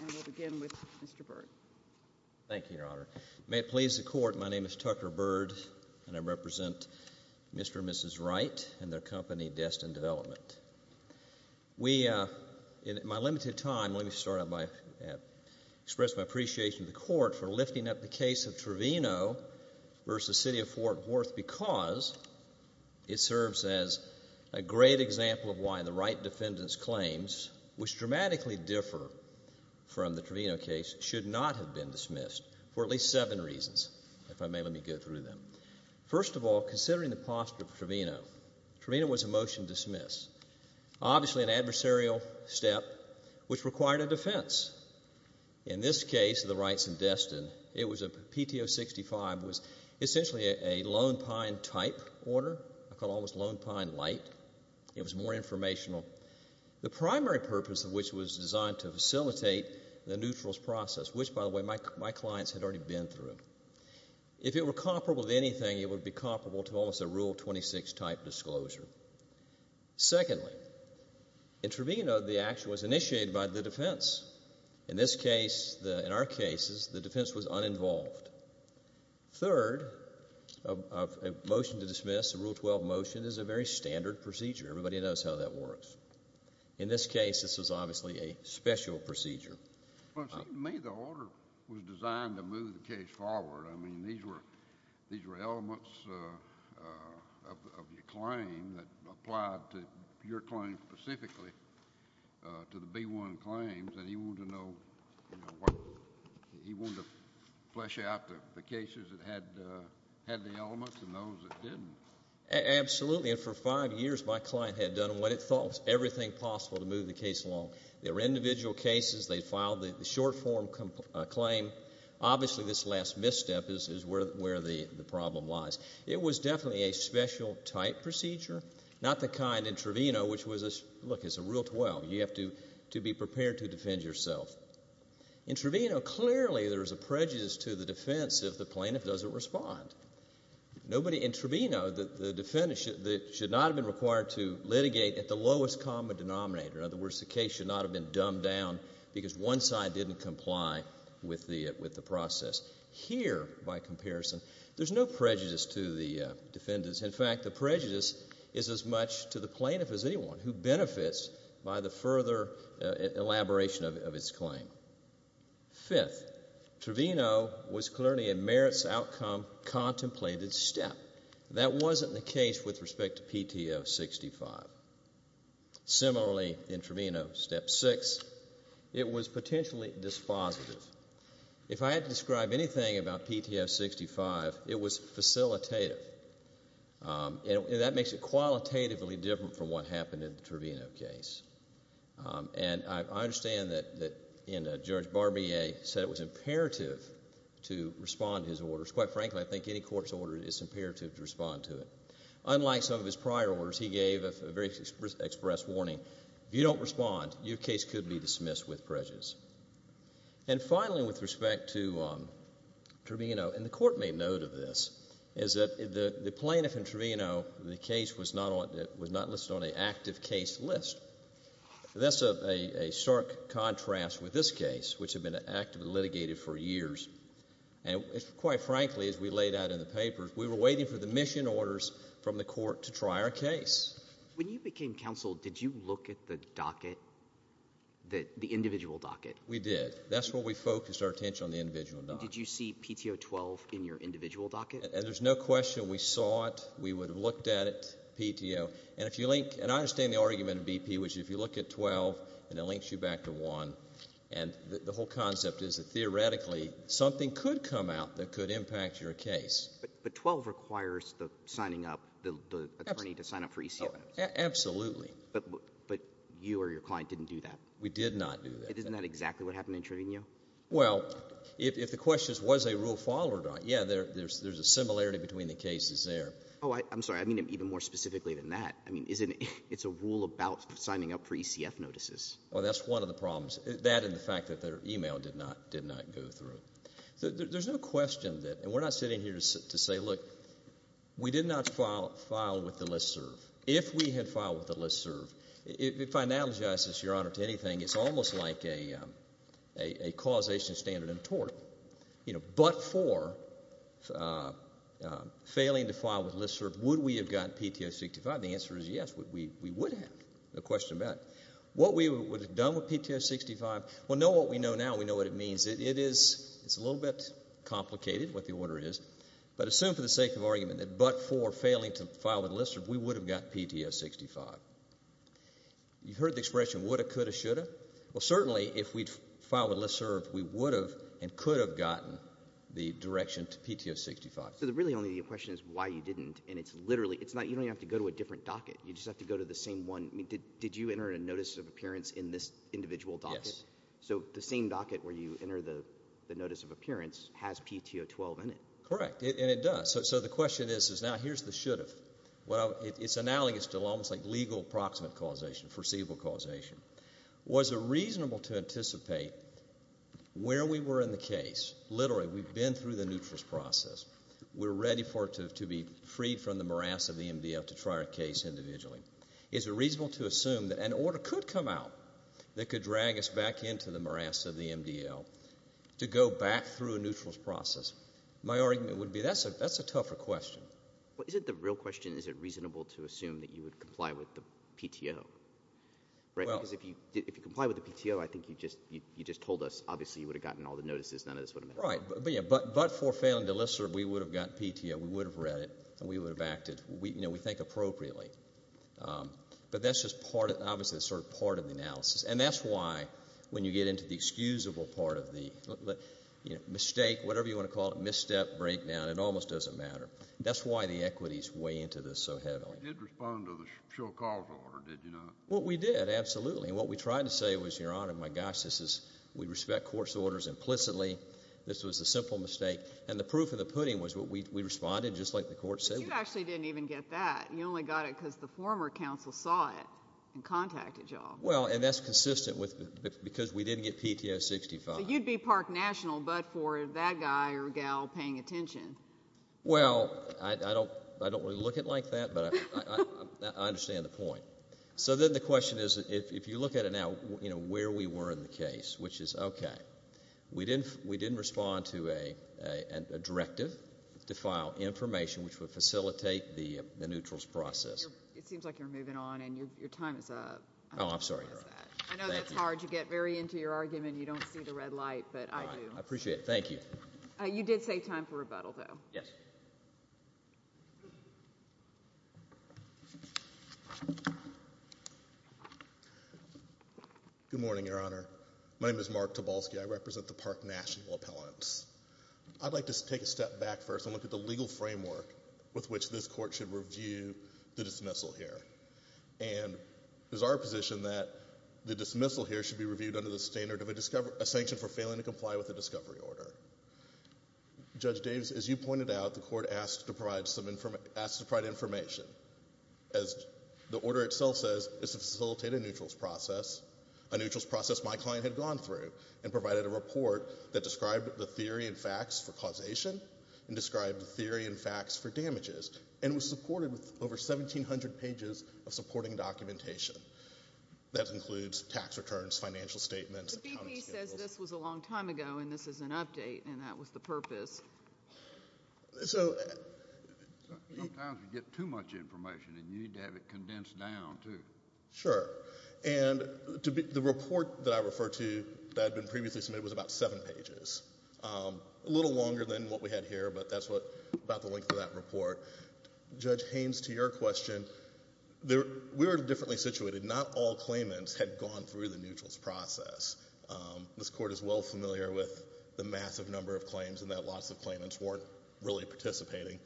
And we'll begin with Mr. Byrd. Thank you, Your Honor. May it please the Court, my name is Tucker Byrd, and I represent Mr. and Mrs. Wright and their company, Destin Development. We, in my limited time, let me start out by expressing my appreciation to the Court for lifting up the case of Trevino v. City of Fort Worth because it serves as a great example of why the Wright defendants' claims, which dramatically differ from the Trevino case, should not have been dismissed for at least seven reasons, if I may let me go through them. First of all, considering the posture of Trevino, Trevino was a motion dismissed, obviously an adversarial step which required a defense. In this case, the Wrights and Destin, it was a PTO 65, was essentially a Lone Pine type order. I call it almost Lone Pine light. It was more informational. The primary purpose of which was designed to facilitate the neutrals process, which, by the way, my clients had already been through. If it were comparable to anything, it would be comparable to almost a Rule 26 type disclosure. Secondly, in Trevino, the action was initiated by the defense. In this case, in our cases, the defense was uninvolved. Third, a motion to dismiss, a Rule 12 motion, is a very standard procedure. Everybody knows how that works. In this case, this was obviously a special procedure. Well, it seems to me the order was designed to move the case forward. I mean, these were elements of your claim that applied to your claim specifically, to the B-1 claims, and he wanted to know what he wanted to flesh out the cases that had the elements and those that didn't. Absolutely, and for five years my client had done what it thought was everything possible to move the case along. They were individual cases. They filed the short-form claim. Obviously, this last misstep is where the problem lies. It was definitely a special type procedure, not the kind in Trevino, which was, look, it's a Rule 12. You have to be prepared to defend yourself. In Trevino, clearly there is a prejudice to the defense if the plaintiff doesn't respond. In Trevino, the defendant should not have been required to litigate at the lowest common denominator. In other words, the case should not have been dumbed down because one side didn't comply with the process. Here, by comparison, there's no prejudice to the defendants. In fact, the prejudice is as much to the plaintiff as anyone who benefits by the further elaboration of his claim. Fifth, Trevino was clearly a merits outcome contemplated step. That wasn't the case with respect to PTO 65. Similarly, in Trevino, Step 6, it was potentially dispositive. If I had to describe anything about PTO 65, it was facilitative. That makes it qualitatively different from what happened in the Trevino case. And I understand that Judge Barbier said it was imperative to respond to his orders. Quite frankly, I think any court's order is imperative to respond to it. Unlike some of his prior orders, he gave a very express warning. If you don't respond, your case could be dismissed with prejudice. And finally, with respect to Trevino, and the court made note of this, is that the plaintiff in Trevino, the case was not listed on an active case list. That's a stark contrast with this case, which had been actively litigated for years. And quite frankly, as we laid out in the papers, we were waiting for the mission orders from the court to try our case. When you became counsel, did you look at the docket, the individual docket? We did. That's where we focused our attention, on the individual docket. Did you see PTO 12 in your individual docket? There's no question we saw it. We would have looked at it, PTO. And I understand the argument of BP, which is if you look at 12, and it links you back to 1. And the whole concept is that theoretically, something could come out that could impact your case. But 12 requires the signing up, the attorney to sign up for ECF. Absolutely. But you or your client didn't do that. We did not do that. Isn't that exactly what happened in Trevino? Well, if the question is, was a rule followed? Yeah, there's a similarity between the cases there. Oh, I'm sorry. I mean it even more specifically than that. I mean, it's a rule about signing up for ECF notices. Well, that's one of the problems, that and the fact that their e-mail did not go through. There's no question that, and we're not sitting here to say, look, we did not file with the LISTSERV. If we had filed with the LISTSERV, if it finalizes, Your Honor, to anything, it's almost like a causation standard in tort. But for failing to file with LISTSERV, would we have gotten PTO 65? The answer is yes, we would have. No question about it. What we would have done with PTO 65, well, know what we know now. We know what it means. It is a little bit complicated, what the order is. But assume for the sake of argument that but for failing to file with LISTSERV, we would have got PTO 65. You heard the expression woulda, coulda, shoulda. Well, certainly if we'd filed with LISTSERV, we would have and could have gotten the direction to PTO 65. So really only the question is why you didn't, and it's literally, you don't even have to go to a different docket. You just have to go to the same one. Did you enter a notice of appearance in this individual docket? Yes. So the same docket where you enter the notice of appearance has PTO 12 in it. Correct, and it does. So the question is, now here's the should've. Well, it's analogous to almost like legal proximate causation, foreseeable causation. Was it reasonable to anticipate where we were in the case? Literally, we've been through the neutrous process. We're ready for it to be freed from the morass of the MDL to try our case individually. Is it reasonable to assume that an order could come out that could drag us back into the morass of the MDL to go back through a neutrous process? My argument would be that's a tougher question. Well, is it the real question, is it reasonable to assume that you would comply with the PTO? Because if you comply with the PTO, I think you just told us, obviously, you would have gotten all the notices. None of this would have mattered. Right, but for failing to listen, we would have gotten PTO. We would have read it, and we would have acted. We think appropriately. But that's just obviously sort of part of the analysis, and that's why when you get into the excusable part of the mistake, whatever you want to call it, misstep, breakdown, it almost doesn't matter. That's why the equities weigh into this so heavily. You did respond to the sure cause order, did you not? Well, we did, absolutely. And what we tried to say was, Your Honor, my gosh, we respect court's orders implicitly. This was a simple mistake. And the proof of the pudding was we responded just like the court said we would. But you actually didn't even get that. You only got it because the former counsel saw it and contacted you all. Well, and that's consistent with because we didn't get PTO 65. So you'd be park national but for that guy or gal paying attention. Well, I don't really look at it like that, but I understand the point. So then the question is, if you look at it now, where we were in the case, which is, okay, we didn't respond to a directive to file information which would facilitate the neutrals process. It seems like you're moving on and your time is up. Oh, I'm sorry, Your Honor. I know that's hard. You get very into your argument and you don't see the red light, but I do. I appreciate it. Thank you. You did say time for rebuttal, though. Yes. Good morning, Your Honor. My name is Mark Tobolsky. I represent the park national appellants. I'd like to take a step back first and look at the legal framework with which this court should review the dismissal here. And it is our position that the dismissal here should be reviewed under the standard of a sanction for failing to comply with a discovery order. Judge Davis, as you pointed out, the court asked to provide information. As the order itself says, it's to facilitate a neutrals process, a neutrals process my client had gone through and provided a report that described the theory and facts for causation and described the theory and facts for damages and was supported with over 1,700 pages of supporting documentation. That includes tax returns, financial statements. The BP says this was a long time ago and this is an update and that was the purpose. Sometimes you get too much information and you need to have it condensed down, too. Sure. And the report that I refer to that had been previously submitted was about seven pages, a little longer than what we had here, but that's about the length of that report. Judge Haynes, to your question, we were differently situated. Not all claimants had gone through the neutrals process. This court is well familiar with the massive number of claims and that lots of claimants weren't really participating.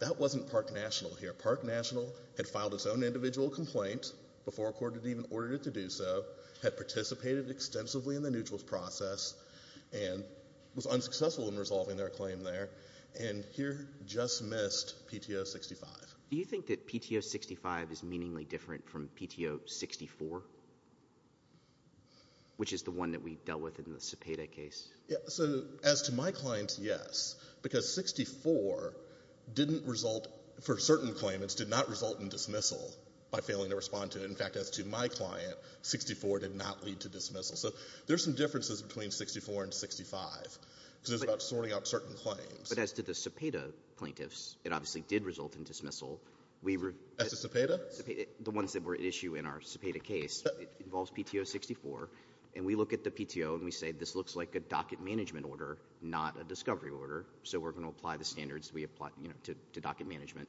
That wasn't park national here. Park national had filed its own individual complaint before a court had even ordered it to do so, had participated extensively in the neutrals process, and was unsuccessful in resolving their claim there, and here just missed PTO 65. Do you think that PTO 65 is meaningly different from PTO 64, which is the one that we dealt with in the Cepeda case? So as to my client, yes, because 64 didn't result, for certain claimants, did not result in dismissal by failing to respond to it. In fact, as to my client, 64 did not lead to dismissal. So there's some differences between 64 and 65 because it's about sorting out certain claims. But as to the Cepeda plaintiffs, it obviously did result in dismissal. As to Cepeda? The ones that were at issue in our Cepeda case, it involves PTO 64, and we look at the PTO and we say this looks like a docket management order, not a discovery order, so we're going to apply the standards we applied to docket management.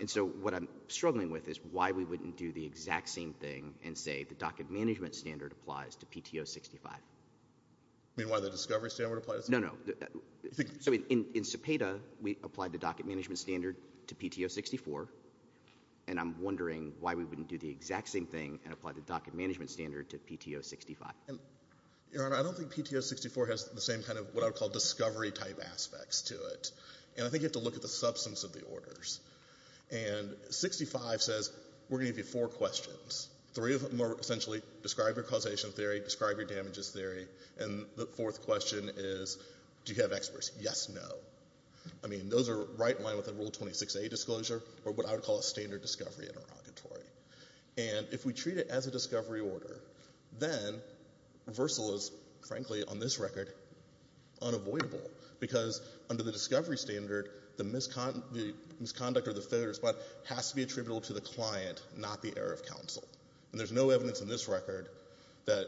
And so what I'm struggling with is why we wouldn't do the exact same thing and say the docket management standard applies to PTO 65. You mean why the discovery standard applies? No, no. So in Cepeda, we applied the docket management standard to PTO 64, and I'm wondering why we wouldn't do the exact same thing and apply the docket management standard to PTO 65. Your Honor, I don't think PTO 64 has the same kind of what I would call discovery-type aspects to it. And I think you have to look at the substance of the orders. And 65 says we're going to give you four questions. Three of them are essentially describe your causation theory, describe your damages theory, and the fourth question is do you have experts? Yes, no. I mean, those are right in line with the Rule 26A disclosure or what I would call a standard discovery interrogatory. And if we treat it as a discovery order, then reversal is, frankly, on this record, unavoidable, because under the discovery standard, the misconduct or the failure of the spot has to be attributable to the client, not the error of counsel. And there's no evidence in this record that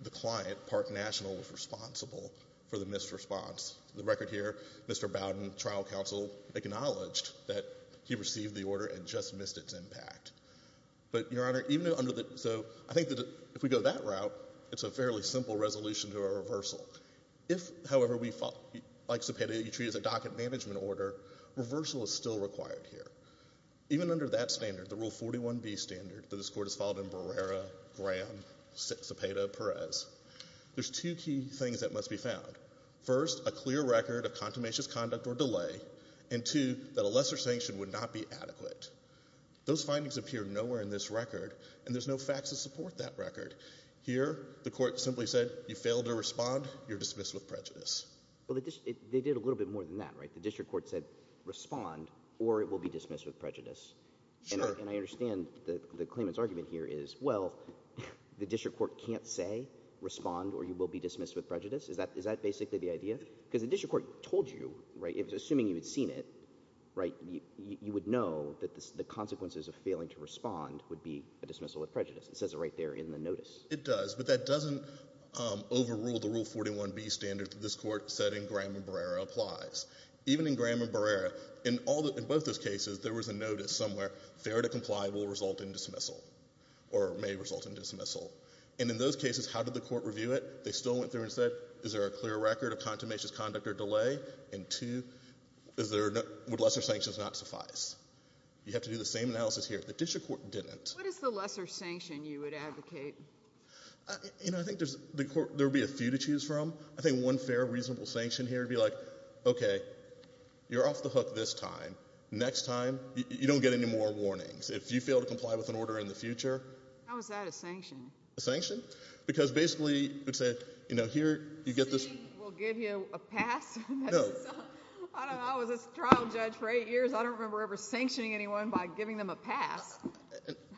the client, Park National, was responsible for the missed response. The record here, Mr. Bowden, trial counsel, acknowledged that he received the order and just missed its impact. But, Your Honor, even under the – so I think that if we go that route, it's a fairly simple resolution to a reversal. If, however, we – like Cepeda, you treat it as a docket management order, reversal is still required here. Even under that standard, the Rule 41B standard, that this Court has followed in Barrera, Graham, Cepeda, Perez, first, a clear record of contumacious conduct or delay, and, two, that a lesser sanction would not be adequate. Those findings appear nowhere in this record, and there's no facts to support that record. Here, the Court simply said you failed to respond, you're dismissed with prejudice. Well, they did a little bit more than that, right? The district court said respond or it will be dismissed with prejudice. Sure. And I understand the claimant's argument here is, well, the district court can't say respond or you will be dismissed with prejudice? Is that basically the idea? Because the district court told you, right, it was assuming you had seen it, right, you would know that the consequences of failing to respond would be a dismissal with prejudice. It says it right there in the notice. It does, but that doesn't overrule the Rule 41B standard that this Court said in Graham and Barrera applies. Even in Graham and Barrera, in all – in both those cases, there was a notice somewhere, fair to comply will result in dismissal or may result in dismissal. And in those cases, how did the Court review it? They still went through and said, is there a clear record of contumacious conduct or delay? And two, is there – would lesser sanctions not suffice? You have to do the same analysis here. The district court didn't. What is the lesser sanction you would advocate? You know, I think there's – there would be a few to choose from. I think one fair, reasonable sanction here would be like, okay, you're off the hook this time. Next time, you don't get any more warnings. If you fail to comply with an order in the future – How is that a sanction? A sanction? Because basically it would say, you know, here you get this – See, we'll give you a pass. No. I don't know. I was a trial judge for eight years. I don't remember ever sanctioning anyone by giving them a pass.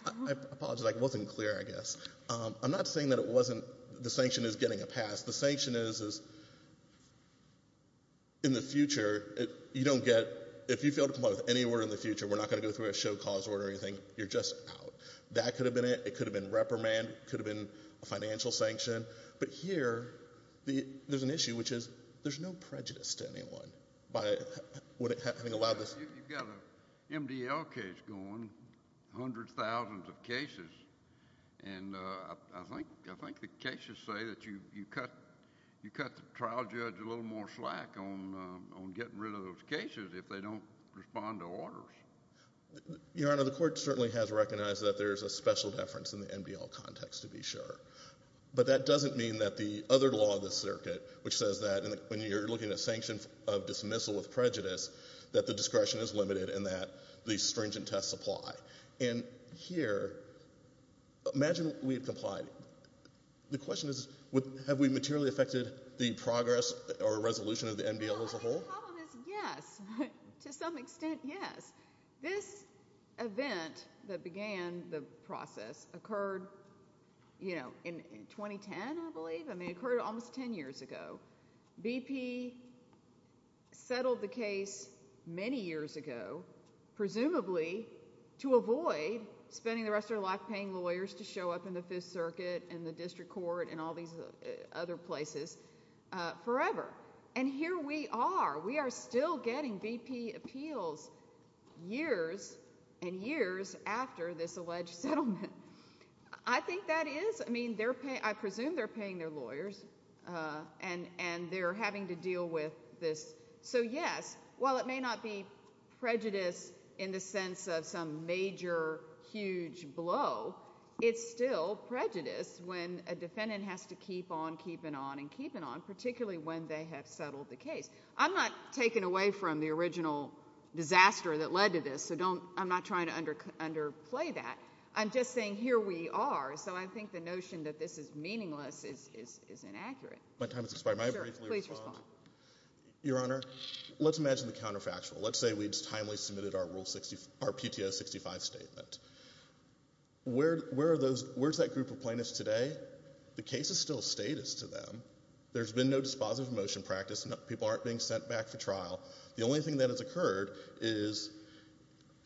I apologize. I wasn't clear, I guess. I'm not saying that it wasn't – the sanction is getting a pass. The sanction is, in the future, you don't get – if you fail to comply with any order in the future, we're not going to go through a show cause order or anything. You're just out. That could have been it. It could have been a financial sanction. But here, there's an issue, which is there's no prejudice to anyone by having allowed this – You've got an MDL case going, hundreds, thousands of cases, and I think the cases say that you cut the trial judge a little more slack on getting rid of those cases if they don't respond to orders. Your Honor, the court certainly has recognized that there's a special deference in the MDL context, to be sure. But that doesn't mean that the other law of the circuit, which says that when you're looking at sanctions of dismissal with prejudice, that the discretion is limited and that the stringent tests apply. And here, imagine we had complied. The question is, have we materially affected the progress or resolution of the MDL as a whole? The problem is, yes. To some extent, yes. This event that began the process occurred in 2010, I believe. It occurred almost 10 years ago. BP settled the case many years ago, presumably to avoid spending the rest of their life paying lawyers to show up in the Fifth Circuit and the district court and all these other places forever. And here we are. We are still getting BP appeals years and years after this alleged settlement. I think that is, I mean, I presume they're paying their lawyers and they're having to deal with this. So, yes, while it may not be prejudice in the sense of some major, huge blow, it's still prejudice when a defendant has to keep on keeping on and keeping on, particularly when they have settled the case. I'm not taken away from the original disaster that led to this, so I'm not trying to underplay that. I'm just saying here we are. So I think the notion that this is meaningless is inaccurate. My time has expired. May I briefly respond? Please respond. Your Honor, let's imagine the counterfactual. Let's say we'd timely submitted our PTO 65 statement. Where's that group of plaintiffs today? The case is still status to them. There's been no dispositive motion practice. People aren't being sent back for trial. The only thing that has occurred is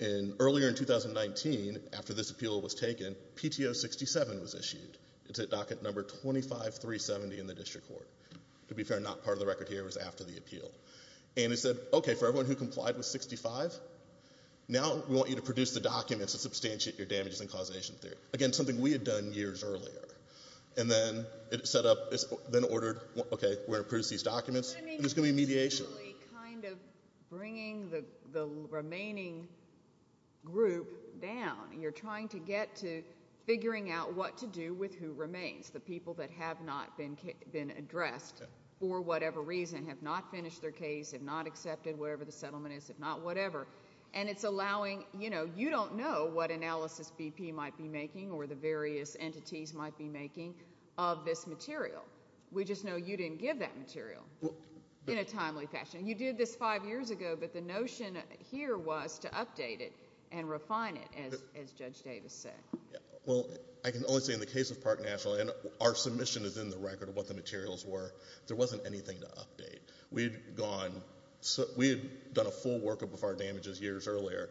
earlier in 2019, after this appeal was taken, PTO 67 was issued. It's at docket number 25370 in the district court. To be fair, not part of the record here. It was after the appeal. And it said, okay, for everyone who complied with 65, now we want you to produce the documents to substantiate your damages and causation theory. Again, something we had done years earlier. And then it set up, then ordered, okay, we're going to produce these documents. There's going to be mediation. You're essentially kind of bringing the remaining group down. You're trying to get to figuring out what to do with who remains, the people that have not been addressed for whatever reason, have not finished their case, have not accepted whatever the settlement is, if not whatever. And it's allowing, you know, you don't know what analysis BP might be making or the various entities might be making of this material. We just know you didn't give that material in a timely fashion. You did this five years ago, but the notion here was to update it and refine it, as Judge Davis said. Well, I can only say in the case of Park National, and our submission is in the record of what the materials were, there wasn't anything to update. We had gone, we had done a full workup of our damages years earlier.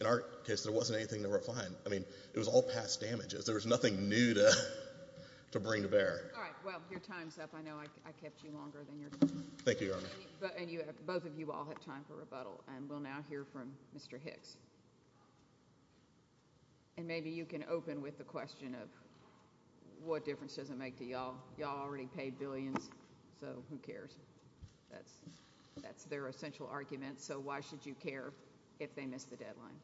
In our case, there wasn't anything to refine. I mean, it was all past damages. There was nothing new to bring to bear. All right, well, your time's up. I know I kept you longer than your time. Thank you, Your Honor. Both of you all have time for rebuttal, and we'll now hear from Mr. Hicks. Well, y'all already paid billions, so who cares? That's their essential argument. So why should you care if they missed the deadline?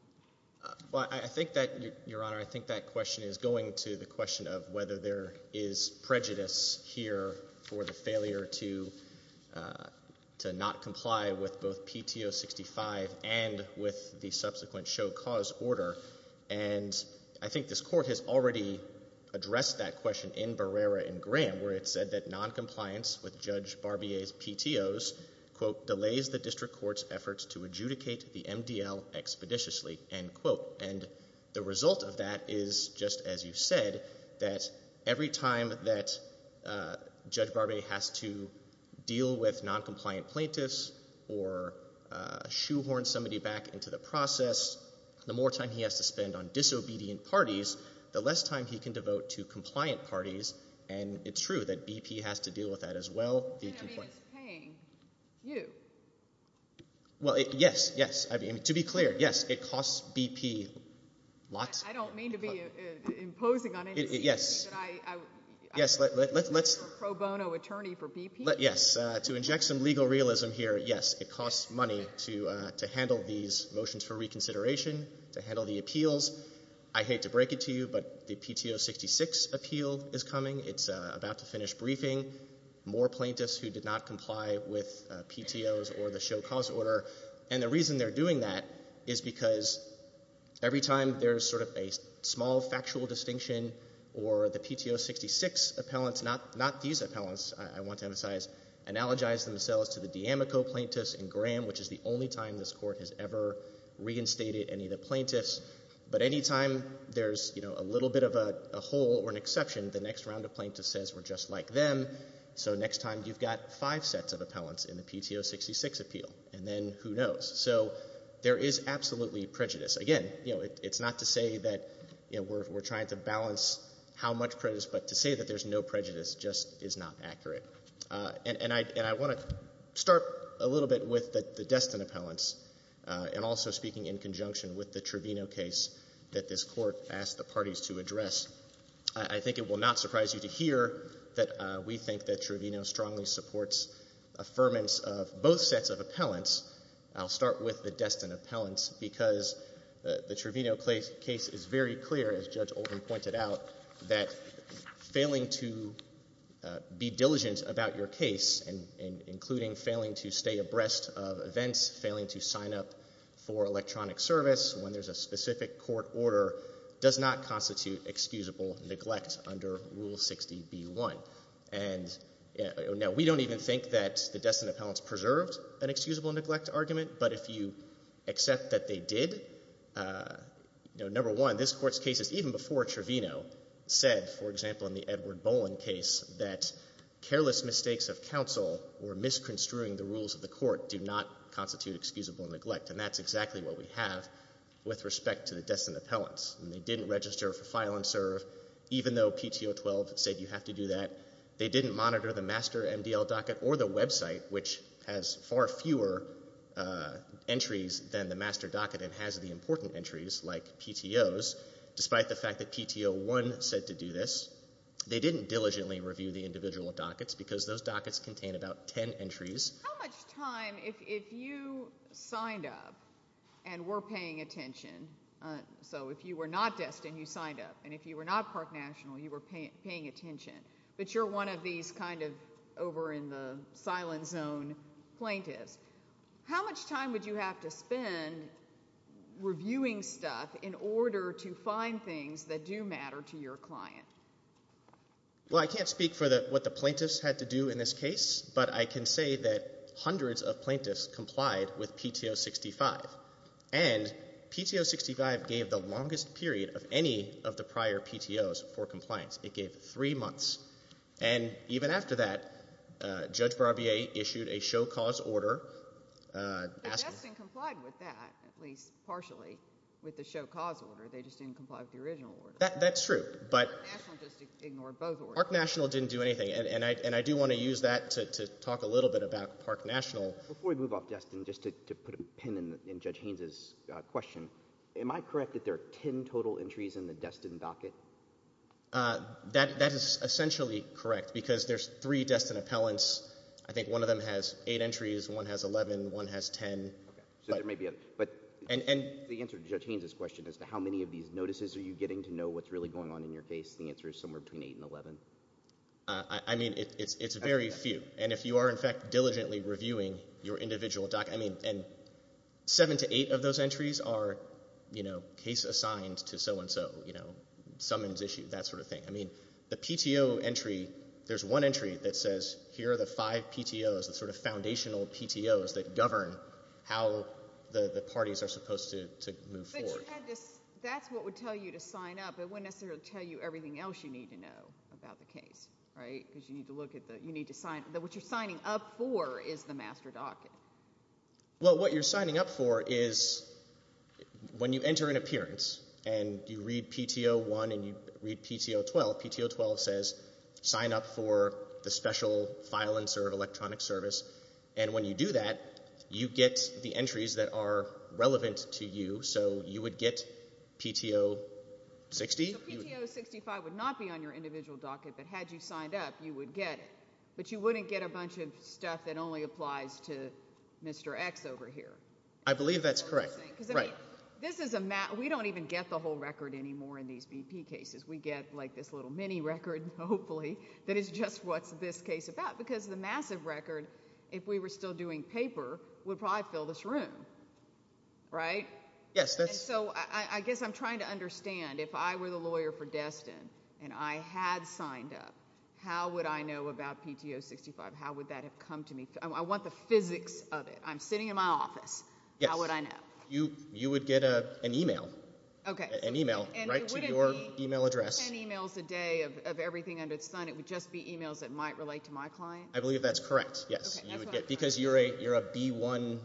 Well, I think that, Your Honor, I think that question is going to the question of whether there is prejudice here for the failure to not comply with both PTO 65 and with the subsequent show cause order. And I think this court has already addressed that question in Barrera and Graham, where it said that noncompliance with Judge Barbier's PTOs, quote, delays the district court's efforts to adjudicate the MDL expeditiously, end quote. And the result of that is, just as you said, that every time that Judge Barbier has to deal with noncompliant plaintiffs or shoehorn somebody back into the process, the more time he has to spend on disobedient parties, the less time he can devote to compliant parties. And it's true that BP has to deal with that as well. I mean, it's paying you. Well, yes, yes. I mean, to be clear, yes, it costs BP lots. I don't mean to be imposing on anybody. Yes. I'm not a pro bono attorney for BP. Yes. To inject some legal realism here, yes, it costs money to handle these motions for reconsideration, to handle the appeals. I hate to break it to you, but the PTO 66 appeal is coming. It's about to finish briefing. More plaintiffs who did not comply with PTOs or the show cause order. And the reason they're doing that is because every time there's sort of a small factual distinction or the PTO 66 appellants, not these appellants I want to emphasize, analogize themselves to the D'Amico plaintiffs in Graham, which is the only time this Court has ever reinstated any of the plaintiffs. But any time there's a little bit of a hole or an exception, the next round of plaintiffs says we're just like them. So next time you've got five sets of appellants in the PTO 66 appeal, and then who knows. So there is absolutely prejudice. Again, it's not to say that we're trying to balance how much prejudice, but to say that there's no prejudice just is not accurate. And I want to start a little bit with the Destin appellants and also speaking in conjunction with the Trevino case that this Court asked the parties to address. I think it will not surprise you to hear that we think that Trevino strongly supports affirmance of both sets of appellants. I'll start with the Destin appellants because the Trevino case is very clear, as Judge Oldham pointed out, that failing to be diligent about your case, including failing to stay abreast of events, failing to sign up for electronic service when there's a specific court order, does not constitute excusable neglect under Rule 60b-1. Now, we don't even think that the Destin appellants preserved an excusable neglect argument, but if you accept that they did, number one, this Court's cases, even before Trevino, said, for example, in the Edward Boland case, that careless mistakes of counsel or misconstruing the rules of the court do not constitute excusable neglect. And that's exactly what we have with respect to the Destin appellants. They didn't register for file and serve, even though PTO 12 said you have to do that. They didn't monitor the master MDL docket or the website, which has far fewer entries than the master docket and has the important entries, like PTOs, despite the fact that PTO 1 said to do this. They didn't diligently review the individual dockets because those dockets contain about 10 entries. How much time, if you signed up and were paying attention, so if you were not Destin, you signed up, and if you were not Park National, you were paying attention, but you're one of these kind of over-in-the-silent-zone plaintiffs, how much time would you have to spend reviewing stuff in order to find things that do matter to your client? Well, I can't speak for what the plaintiffs had to do in this case, but I can say that hundreds of plaintiffs complied with PTO 65, and PTO 65 gave the longest period of any of the prior PTOs for compliance. It gave three months. And even after that, Judge Barbier issued a show cause order. Now, Destin complied with that, at least partially, with the show cause order. They just didn't comply with the original order. That's true. Park National just ignored both orders. Park National didn't do anything, and I do want to use that to talk a little bit about Park National. Before we move off Destin, just to put a pin in Judge Haynes' question, am I correct that there are ten total entries in the Destin docket? That is essentially correct because there's three Destin appellants. I think one of them has eight entries, one has 11, one has 10. So there may be a—but the answer to Judge Haynes' question as to how many of these notices are you getting to know what's really going on in your case, the answer is somewhere between eight and 11. I mean, it's very few. And if you are, in fact, diligently reviewing your individual docket, I mean, seven to eight of those entries are case assigned to so-and-so, summons issued, that sort of thing. I mean, the PTO entry, there's one entry that says here are the five PTOs, the sort of foundational PTOs that govern how the parties are supposed to move forward. That's what would tell you to sign up. It wouldn't necessarily tell you everything else you need to know about the case, right? Because you need to look at the—you need to sign—what you're signing up for is the master docket. Well, what you're signing up for is when you enter an appearance and you read PTO 1 and you read PTO 12, PTO 12 says sign up for the special file and electronic service. And when you do that, you get the entries that are relevant to you. So you would get PTO 60. So PTO 65 would not be on your individual docket, but had you signed up, you would get it. But you wouldn't get a bunch of stuff that only applies to Mr. X over here. I believe that's correct. Right. This is a—we don't even get the whole record anymore in these BP cases. We get, like, this little mini record, hopefully, that is just what this case is about because the massive record, if we were still doing paper, would probably fill this room, right? Yes. So I guess I'm trying to understand. If I were the lawyer for Destin and I had signed up, how would I know about PTO 65? How would that have come to me? I want the physics of it. I'm sitting in my office. Yes. How would I know? You would get an e-mail. Okay. An e-mail right to your e-mail address. And it wouldn't be 10 e-mails a day of everything under the sun. It would just be e-mails that might relate to my client? I believe that's correct, yes. Okay. Because you're a B1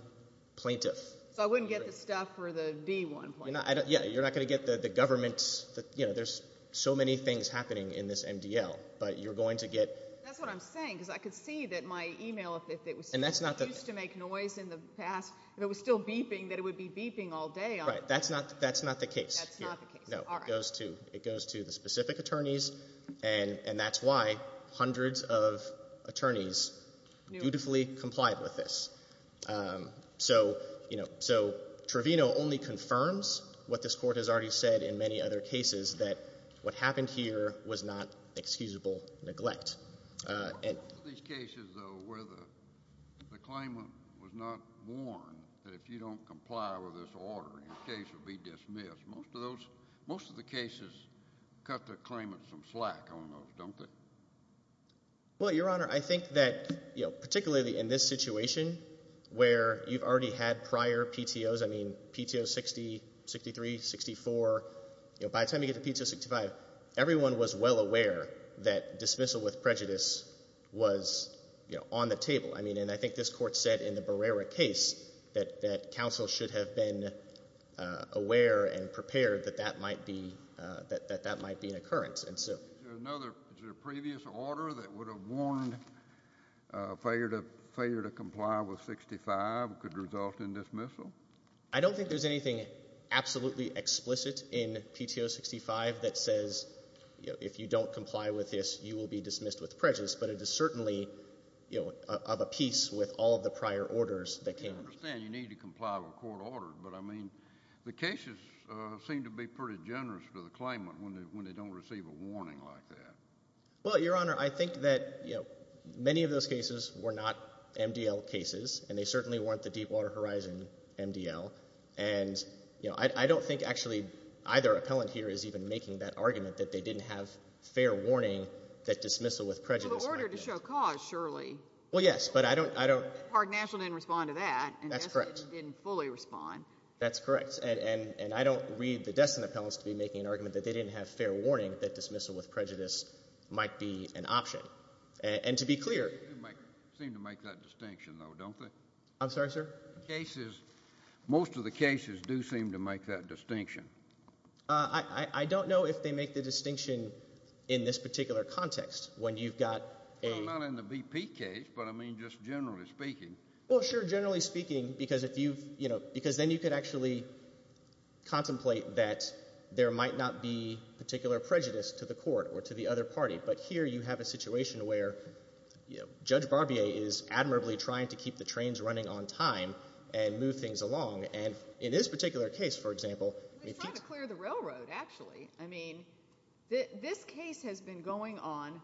plaintiff. So I wouldn't get the stuff for the B1 plaintiff. Yeah. You're not going to get the government. You know, there's so many things happening in this MDL, but you're going to get. That's what I'm saying because I could see that my e-mail, if it was still used to make noise in the past, if it was still beeping, that it would be beeping all day. Right. That's not the case here. That's not the case. All right. No, it goes to the specific attorneys, and that's why hundreds of attorneys dutifully complied with this. So Trevino only confirms what this court has already said in many other cases, that what happened here was not excusable neglect. Most of these cases, though, where the claimant was not warned that if you don't comply with this order, your case would be dismissed, most of the cases cut the claimant some slack on those, don't they? Well, Your Honor, I think that particularly in this situation where you've already had prior PTOs, I mean, PTO 60, 63, 64, by the time you get to PTO 65, everyone was well aware that dismissal with prejudice was on the table. I mean, and I think this court said in the Barrera case that counsel should have been aware and prepared that that might be an occurrence. Is there a previous order that would have warned failure to comply with 65 could result in dismissal? I don't think there's anything absolutely explicit in PTO 65 that says if you don't comply with this, you will be dismissed with prejudice. But it is certainly of a piece with all of the prior orders that came. I understand you need to comply with a court order. But, I mean, the cases seem to be pretty generous to the claimant when they don't receive a warning like that. Well, Your Honor, I think that, you know, many of those cases were not MDL cases, and they certainly weren't the Deepwater Horizon MDL. And, you know, I don't think actually either appellant here is even making that argument that they didn't have fair warning that dismissal with prejudice might have. So the order to show cause, surely. Well, yes, but I don't— Park National didn't respond to that. That's correct. Park National didn't fully respond. That's correct. And I don't read the Destin appellants to be making an argument that they didn't have fair warning that dismissal with prejudice might be an option. And to be clear— They do seem to make that distinction, though, don't they? I'm sorry, sir? The cases, most of the cases do seem to make that distinction. I don't know if they make the distinction in this particular context when you've got a— Well, not in the BP case, but, I mean, just generally speaking. Well, sure, generally speaking, because then you could actually contemplate that there might not be particular prejudice to the court or to the other party. But here you have a situation where Judge Barbier is admirably trying to keep the trains running on time and move things along. And in this particular case, for example— We're trying to clear the railroad, actually. I mean, this case has been going on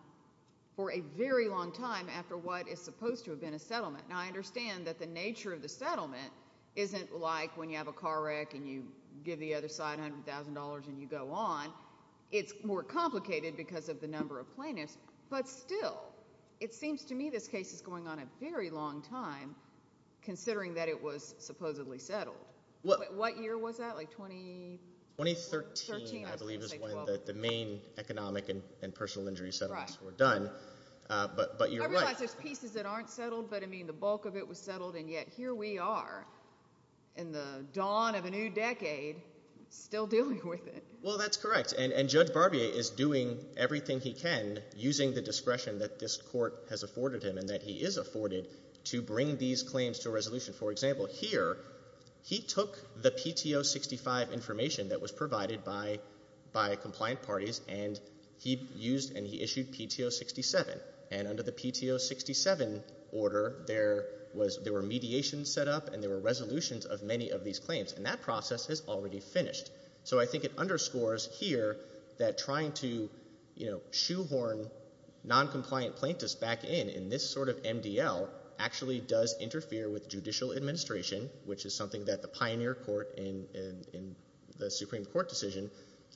for a very long time after what is supposed to have been a settlement. Now, I understand that the nature of the settlement isn't like when you have a car wreck and you give the other side $100,000 and you go on. It's more complicated because of the number of plaintiffs. But still, it seems to me this case is going on a very long time considering that it was supposedly settled. What year was that, like 20— 2013, I believe, is when the main economic and personal injury settlements were done. But you're right— the bulk of it was settled, and yet here we are in the dawn of a new decade still dealing with it. Well, that's correct. And Judge Barbier is doing everything he can, using the discretion that this court has afforded him and that he is afforded, to bring these claims to a resolution. For example, here, he took the PTO 65 information that was provided by compliant parties and he used and he issued PTO 67. And under the PTO 67 order, there were mediations set up and there were resolutions of many of these claims, and that process has already finished. So I think it underscores here that trying to shoehorn noncompliant plaintiffs back in in this sort of MDL actually does interfere with judicial administration, which is something that the pioneer court in the Supreme Court decision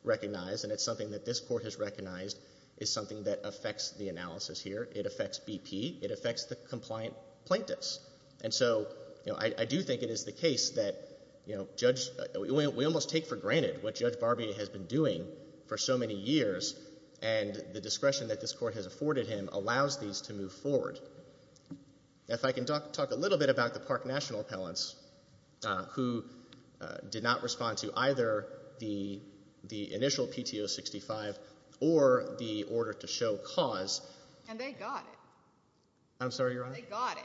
recognized, and it's something that this court has recognized is something that affects the analysis here. It affects BP. It affects the compliant plaintiffs. And so I do think it is the case that we almost take for granted what Judge Barbier has been doing for so many years, and the discretion that this court has afforded him allows these to move forward. If I can talk a little bit about the Park National appellants who did not respond to either the initial PTO 65 or the order to show cause. And they got it. I'm sorry, Your Honor? They got it.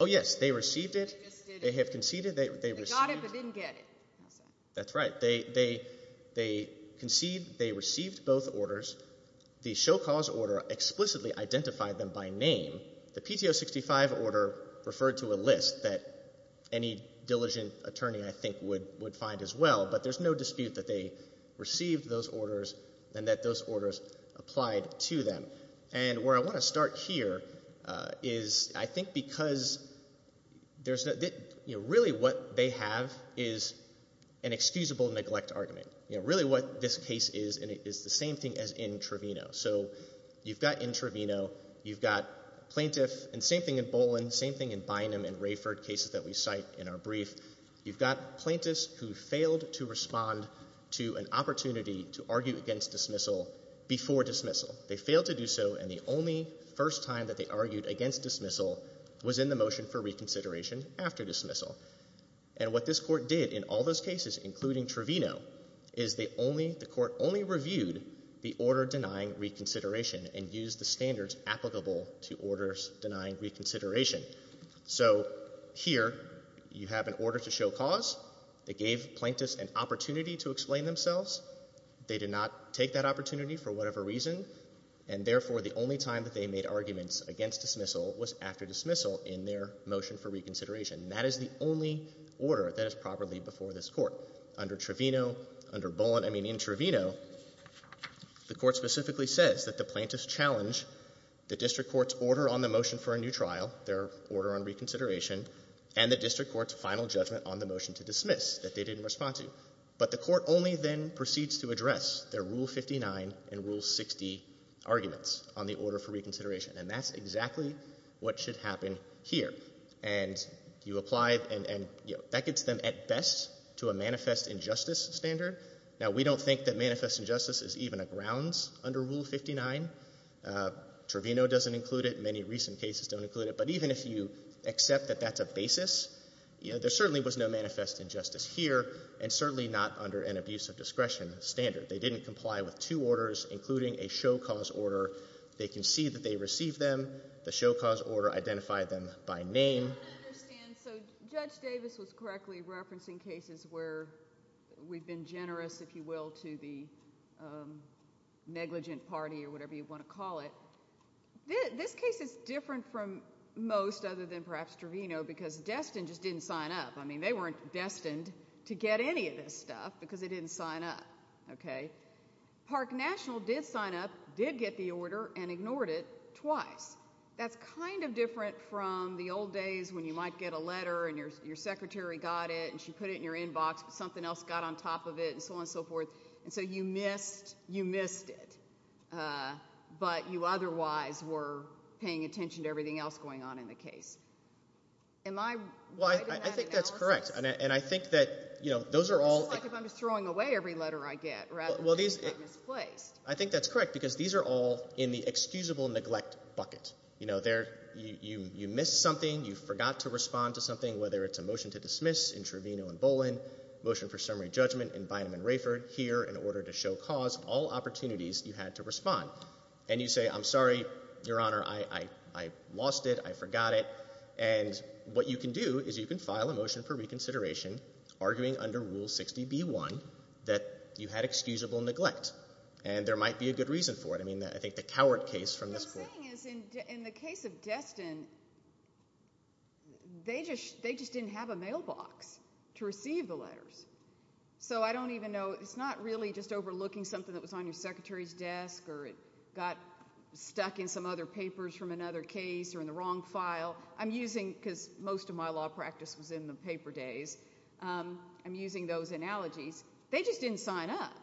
Oh, yes. They received it. They just did it. They have conceded. They got it but didn't get it. That's right. They conceded. They received both orders. The show cause order explicitly identified them by name. The PTO 65 order referred to a list that any diligent attorney I think would find as well, but there's no dispute that they received those orders and that those orders applied to them. And where I want to start here is I think because really what they have is an excusable neglect argument. Really what this case is is the same thing as in Trevino. So you've got in Trevino, you've got plaintiff, and same thing in Bolin, same thing in Bynum and Rayford, cases that we cite in our brief. You've got plaintiffs who failed to respond to an opportunity to argue against dismissal before dismissal. They failed to do so, and the only first time that they argued against dismissal was in the motion for reconsideration after dismissal. And what this court did in all those cases, including Trevino, is the court only reviewed the order denying reconsideration and used the standards applicable to orders denying reconsideration. So here you have an order to show cause. They gave plaintiffs an opportunity to explain themselves. They did not take that opportunity for whatever reason, and therefore the only time that they made arguments against dismissal was after dismissal in their motion for reconsideration. That is the only order that is properly before this court. Under Trevino, under Bolin, I mean in Trevino, the court specifically says that the plaintiffs challenge the district court's order on the motion for a new trial, their order on reconsideration, and the district court's final judgment on the motion to dismiss that they didn't respond to. But the court only then proceeds to address their Rule 59 and Rule 60 arguments on the order for reconsideration, and that's exactly what should happen here. And you apply, and that gets them at best to a manifest injustice standard. Now, we don't think that manifest injustice is even a grounds under Rule 59. Trevino doesn't include it. Many recent cases don't include it. But even if you accept that that's a basis, there certainly was no manifest injustice here and certainly not under an abuse of discretion standard. They didn't comply with two orders, including a show cause order. They concede that they received them. The show cause order identified them by name. I don't understand. So Judge Davis was correctly referencing cases where we've been generous, if you will, to the negligent party or whatever you want to call it. This case is different from most other than perhaps Trevino because Destin just didn't sign up. I mean they weren't destined to get any of this stuff because they didn't sign up. Park National did sign up, did get the order, and ignored it twice. That's kind of different from the old days when you might get a letter and your secretary got it and she put it in your inbox but something else got on top of it and so on and so forth. And so you missed it, but you otherwise were paying attention to everything else going on in the case. Am I right in that analysis? Well, I think that's correct, and I think that those are all— I think that's correct because these are all in the excusable neglect bucket. You know, you missed something, you forgot to respond to something, whether it's a motion to dismiss in Trevino and Boland, motion for summary judgment in Bynum and Rayford, here in order to show cause, all opportunities you had to respond. And you say, I'm sorry, Your Honor, I lost it, I forgot it. And what you can do is you can file a motion for reconsideration arguing under Rule 60b-1 that you had excusable neglect, and there might be a good reason for it. I mean, I think the coward case from this point— What I'm saying is in the case of Destin, they just didn't have a mailbox to receive the letters. So I don't even know—it's not really just overlooking something that was on your secretary's desk or it got stuck in some other papers from another case or in the wrong file. I'm using—because most of my law practice was in the paper days—I'm using those analogies. They just didn't sign up,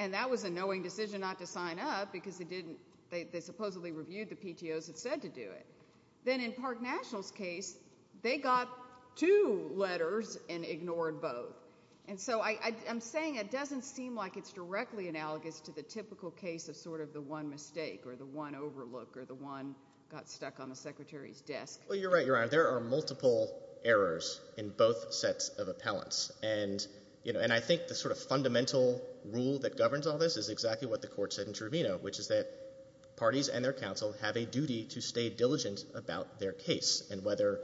and that was a knowing decision not to sign up because they supposedly reviewed the PTOs that said to do it. Then in Park National's case, they got two letters and ignored both. And so I'm saying it doesn't seem like it's directly analogous to the typical case of sort of the one mistake or the one overlook or the one got stuck on the secretary's desk. Well, you're right, Your Honor. There are multiple errors in both sets of appellants. And I think the sort of fundamental rule that governs all this is exactly what the court said in Truvino, which is that parties and their counsel have a duty to stay diligent about their case. And whether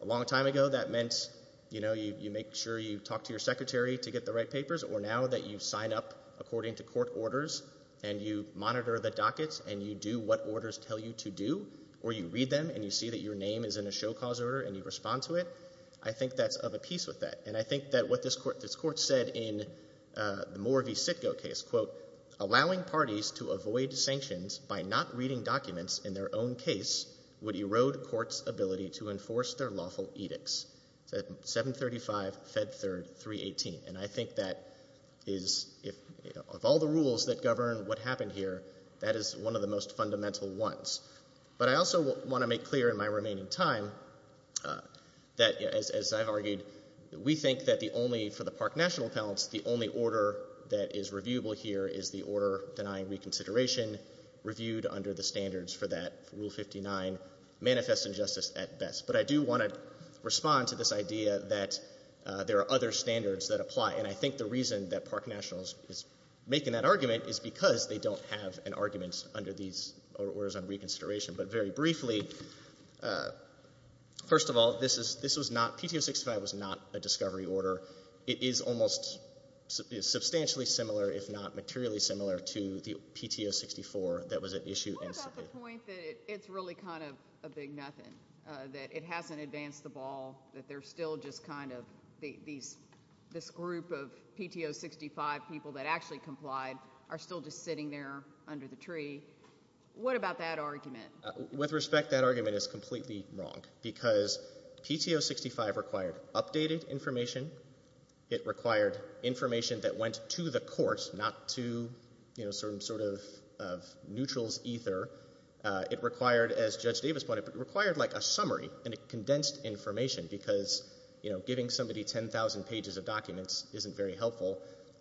a long time ago that meant you make sure you talk to your secretary to get the right papers or now that you sign up according to court orders and you monitor the dockets and you do what orders tell you to do or you read them and you see that your name is in a show cause order and you respond to it, I think that's of a piece with that. And I think that what this court said in the Moore v. Sitko case, quote, allowing parties to avoid sanctions by not reading documents in their own case would erode court's ability to enforce their lawful edicts. It's at 735 Fed Third 318. And I think that is, of all the rules that govern what happened here, that is one of the most fundamental ones. But I also want to make clear in my remaining time that, as I've argued, we think that the only, for the Park National appellants, the only order that is reviewable here is the order denying reconsideration reviewed under the standards for that Rule 59 manifest injustice at best. But I do want to respond to this idea that there are other standards that apply. And I think the reason that Park National is making that argument is because they don't have an argument under these orders on reconsideration. But very briefly, first of all, this was not, PTO 65 was not a discovery order. It is almost substantially similar, if not materially similar, to the point that it's really kind of a big nothing, that it hasn't advanced the ball, that there's still just kind of this group of PTO 65 people that actually complied are still just sitting there under the tree. What about that argument? With respect, that argument is completely wrong because PTO 65 required updated information. It required information that went to the courts, not to, you know, some sort of neutrals ether. It required, as Judge Davis pointed out, it required like a summary and it condensed information because, you know, giving somebody 10,000 pages of documents isn't very helpful.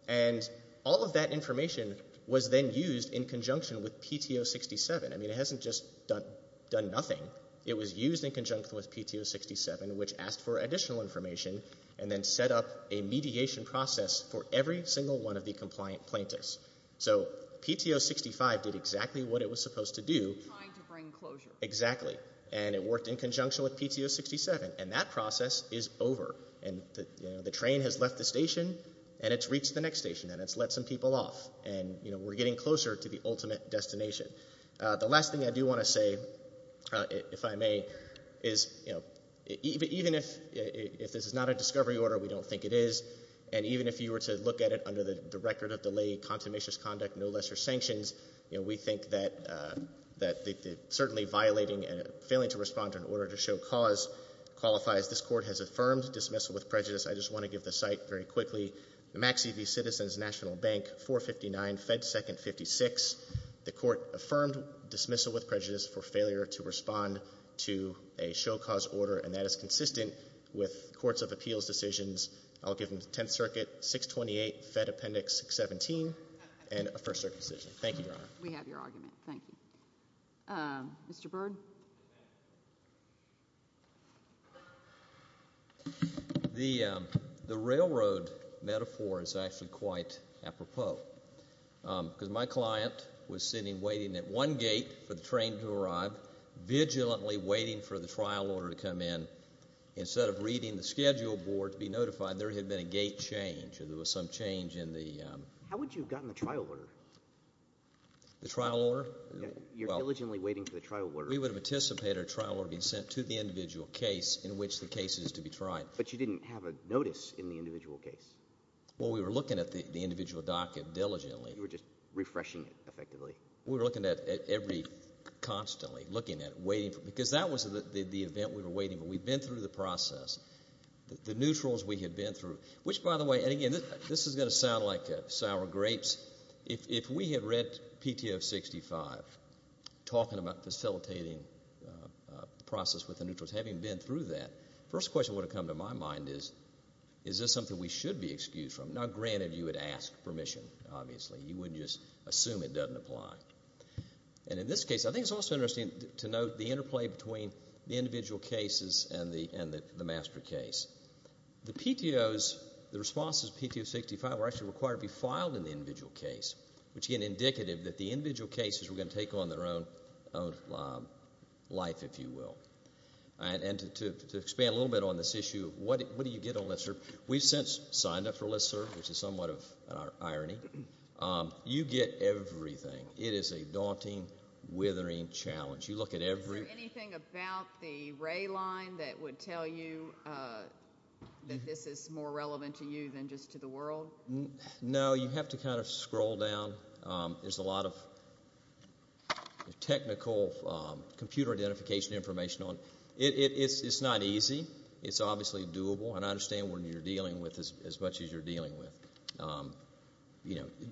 And all of that information was then used in conjunction with PTO 67. I mean, it hasn't just done nothing. It was used in conjunction with PTO 67, which asked for additional information and then set up a mediation process for every single one of the compliant plaintiffs. So PTO 65 did exactly what it was supposed to do. Trying to bring closure. Exactly. And it worked in conjunction with PTO 67. And that process is over. And, you know, the train has left the station and it's reached the next station and it's let some people off. And, you know, we're getting closer to the ultimate destination. The last thing I do want to say, if I may, is, you know, even if this is not a discovery order, we don't think it is, and even if you were to look at it under the record of delay, consummationist conduct, no lesser sanctions, you know, we think that certainly violating and failing to respond to an order to show cause qualifies. This Court has affirmed dismissal with prejudice. I just want to give the site very quickly. Maxey v. Citizens National Bank, 459, Fed Second 56. The Court affirmed dismissal with prejudice for failure to respond to a show cause order and that is consistent with Courts of Appeals decisions. I'll give them the Tenth Circuit, 628, Fed Appendix 617, and a First Circuit decision. Thank you, Your Honor. We have your argument. Thank you. Mr. Byrd. The railroad metaphor is actually quite apropos, because my client was sitting waiting at one gate for the train to arrive, and instead of vigilantly waiting for the trial order to come in, instead of reading the schedule board to be notified, there had been a gate change or there was some change in the— How would you have gotten the trial order? The trial order? You're diligently waiting for the trial order. We would have anticipated a trial order being sent to the individual case in which the case is to be tried. But you didn't have a notice in the individual case. Well, we were looking at the individual docket diligently. You were just refreshing it effectively. We were looking at every—constantly looking at it, waiting for it, because that was the event we were waiting for. We'd been through the process. The neutrals we had been through, which, by the way—and, again, this is going to sound like sour grapes. If we had read PTF 65 talking about facilitating the process with the neutrals, having been through that, the first question that would have come to my mind is, is this something we should be excused from? Now, granted, you would ask permission, obviously. You wouldn't just assume it doesn't apply. And in this case, I think it's also interesting to note the interplay between the individual cases and the master case. The PTOs, the responses to PTO 65 were actually required to be filed in the individual case, which, again, indicative that the individual cases were going to take on their own life, if you will. And to expand a little bit on this issue, what do you get on this, sir? We've since signed up for LISTSERV, which is somewhat of an irony. You get everything. It is a daunting, withering challenge. You look at every— Is there anything about the ray line that would tell you that this is more relevant to you than just to the world? No, you have to kind of scroll down. There's a lot of technical computer identification information on it. It's not easy. It's obviously doable. And I understand what you're dealing with as much as you're dealing with.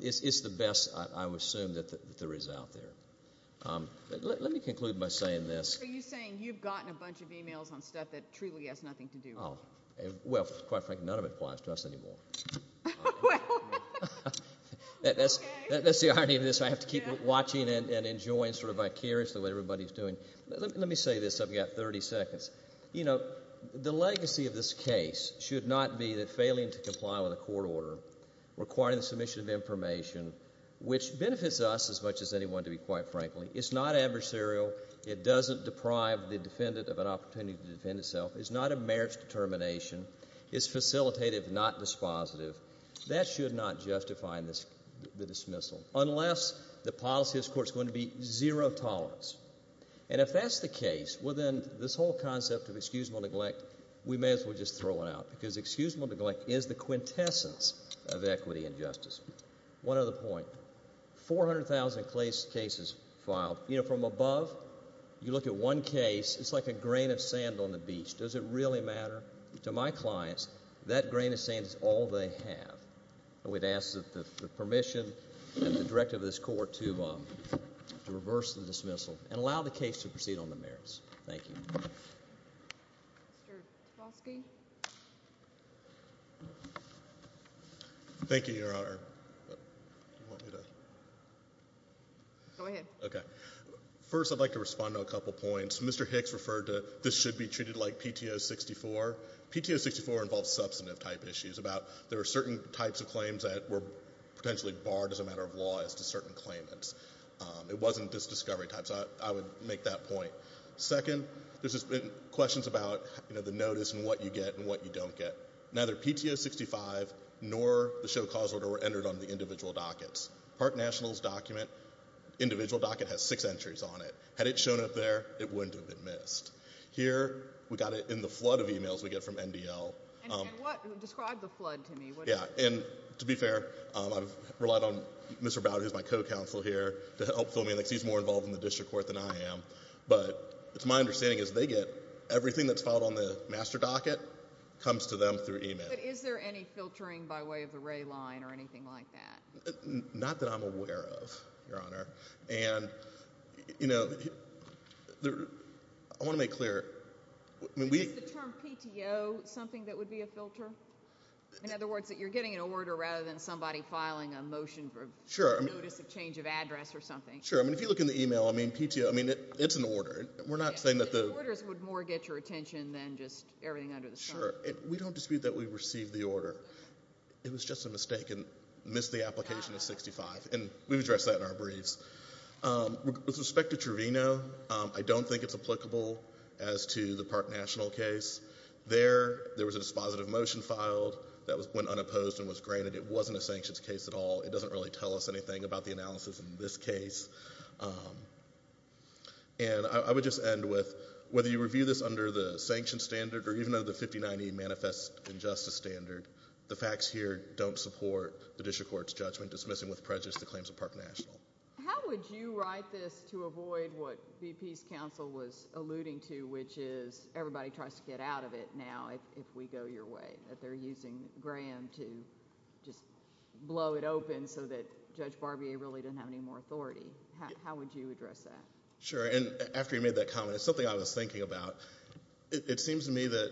It's the best, I would assume, that there is out there. Let me conclude by saying this. Are you saying you've gotten a bunch of emails on stuff that truly has nothing to do with you? Well, quite frankly, none of it applies to us anymore. That's the irony of this. I have to keep watching and enjoying sort of vicariously what everybody's doing. Let me say this. I've got 30 seconds. You know, the legacy of this case should not be the failing to comply with a court order, requiring the submission of information, which benefits us as much as anyone, to be quite frankly. It's not adversarial. It doesn't deprive the defendant of an opportunity to defend itself. It's not a marriage determination. It's facilitative, not dispositive. That should not justify the dismissal unless the policy of this court is going to be zero tolerance. And if that's the case, well, then this whole concept of excusable neglect, we may as well just throw it out because excusable neglect is the quintessence of equity and justice. One other point, 400,000 cases filed. You know, from above, you look at one case, it's like a grain of sand on the beach. Does it really matter? To my clients, that grain of sand is all they have. We'd ask that the permission and the directive of this court to reverse the dismissal and allow the case to proceed on the merits. Thank you. Mr. Tversky? Thank you, Your Honor. Do you want me to? Go ahead. Okay. First, I'd like to respond to a couple points. Mr. Hicks referred to this should be treated like PTO 64. PTO 64 involves substantive type issues about there are certain types of claims that were potentially barred as a matter of law as to certain claimants. It wasn't this discovery type, so I would make that point. Second, there's been questions about, you know, the notice and what you get and what you don't get. Neither PTO 65 nor the show cause order were entered on the individual dockets. Park National's document, individual docket has six entries on it. Had it shown up there, it wouldn't have been missed. Here, we got it in the flood of e-mails we get from NDL. Describe the flood to me. Yeah, and to be fair, I've relied on Mr. Bowden, who's my co-counsel here, to help fill me in because he's more involved in the district court than I am. But it's my understanding is they get everything that's filed on the master docket comes to them through e-mail. But is there any filtering by way of the ray line or anything like that? Not that I'm aware of, Your Honor. And, you know, I want to make clear. Is the term PTO something that would be a filter? In other words, that you're getting an order rather than somebody filing a motion for notice of change of address or something. Sure. I mean, if you look in the e-mail, I mean, PTO, I mean, it's an order. We're not saying that the orders would more get your attention than just everything under the sun. Sure. We don't dispute that we received the order. It was just a mistake and missed the application of 65. And we've addressed that in our briefs. With respect to Truvino, I don't think it's applicable as to the Park National case. There, there was a dispositive motion filed that went unopposed and was granted. It wasn't a sanctions case at all. It doesn't really tell us anything about the analysis in this case. And I would just end with whether you review this under the sanctions standard or even under the 5090 Manifest Injustice standard, the facts here don't support the district court's judgment dismissing with prejudice the claims of Park National. How would you write this to avoid what BP's counsel was alluding to, which is everybody tries to get out of it now if we go your way, that they're using Graham to just blow it open so that Judge Barbier really doesn't have any more authority? How would you address that? Sure. And after you made that comment, it's something I was thinking about. It seems to me that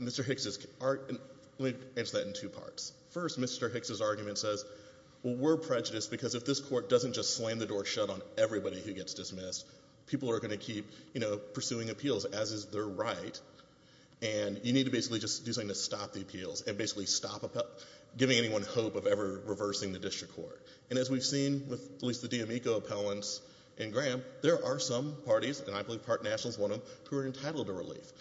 Mr. Hicks' – let me answer that in two parts. First, Mr. Hicks' argument says, well, we're prejudiced because if this court doesn't just slam the door shut on everybody who gets dismissed, people are going to keep, you know, pursuing appeals, as is their right, and you need to basically just do something to stop the appeals and basically stop giving anyone hope of ever reversing the district court. And as we've seen with at least the D'Amico appellants in Graham, there are some parties, and I believe Park National is one of them, who are entitled to relief.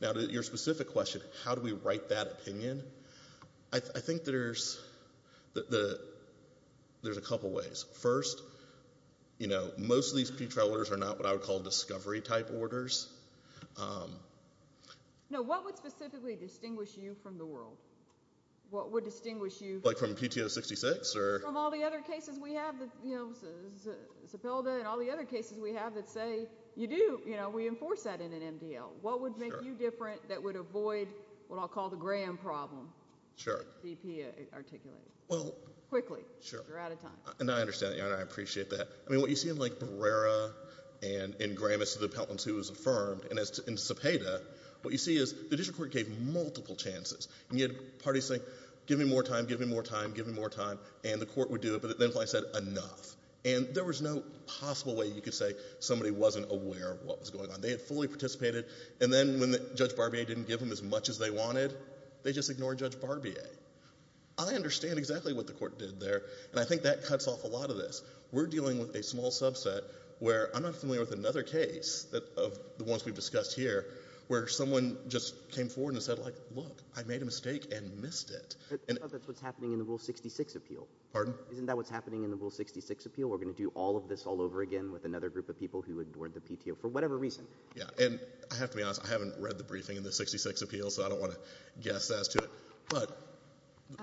Now, to your specific question, how do we write that opinion, I think there's a couple ways. First, you know, most of these pretrial orders are not what I would call discovery-type orders. No, what would specifically distinguish you from the world? What would distinguish you – Like from PTO 66 or – Or from all the other cases we have, you know, Zepeda and all the other cases we have that say you do, you know, we enforce that in an MDL. What would make you different that would avoid what I'll call the Graham problem? Sure. D.P. articulated. Well – Quickly. You're out of time. And I understand that, Your Honor, and I appreciate that. I mean, what you see in, like, Barrera and in Graham as to the appellants who was affirmed, and in Zepeda, what you see is the district court gave multiple chances, and you had parties saying, give me more time, give me more time, give me more time, and the court would do it, but then if I said enough, and there was no possible way you could say somebody wasn't aware of what was going on. They had fully participated, and then when Judge Barbier didn't give them as much as they wanted, they just ignored Judge Barbier. I understand exactly what the court did there, and I think that cuts off a lot of this. We're dealing with a small subset where I'm not familiar with another case of the ones we've discussed here where someone just came forward and said, like, look, I made a mistake and missed it. But that's what's happening in the Rule 66 appeal. Pardon? Isn't that what's happening in the Rule 66 appeal? We're going to do all of this all over again with another group of people who ignored the PTO for whatever reason. Yeah, and I have to be honest. I haven't read the briefing in the 66 appeal, so I don't want to guess as to it, but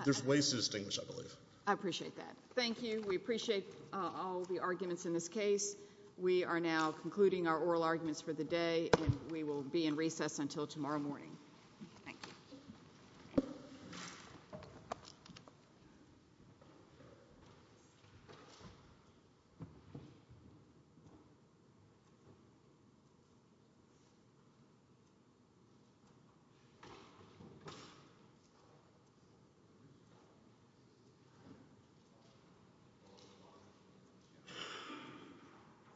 there's ways to distinguish, I believe. I appreciate that. Thank you. We appreciate all the arguments in this case. We are now concluding our oral arguments for the day, and we will be in recess until tomorrow morning. Thank you.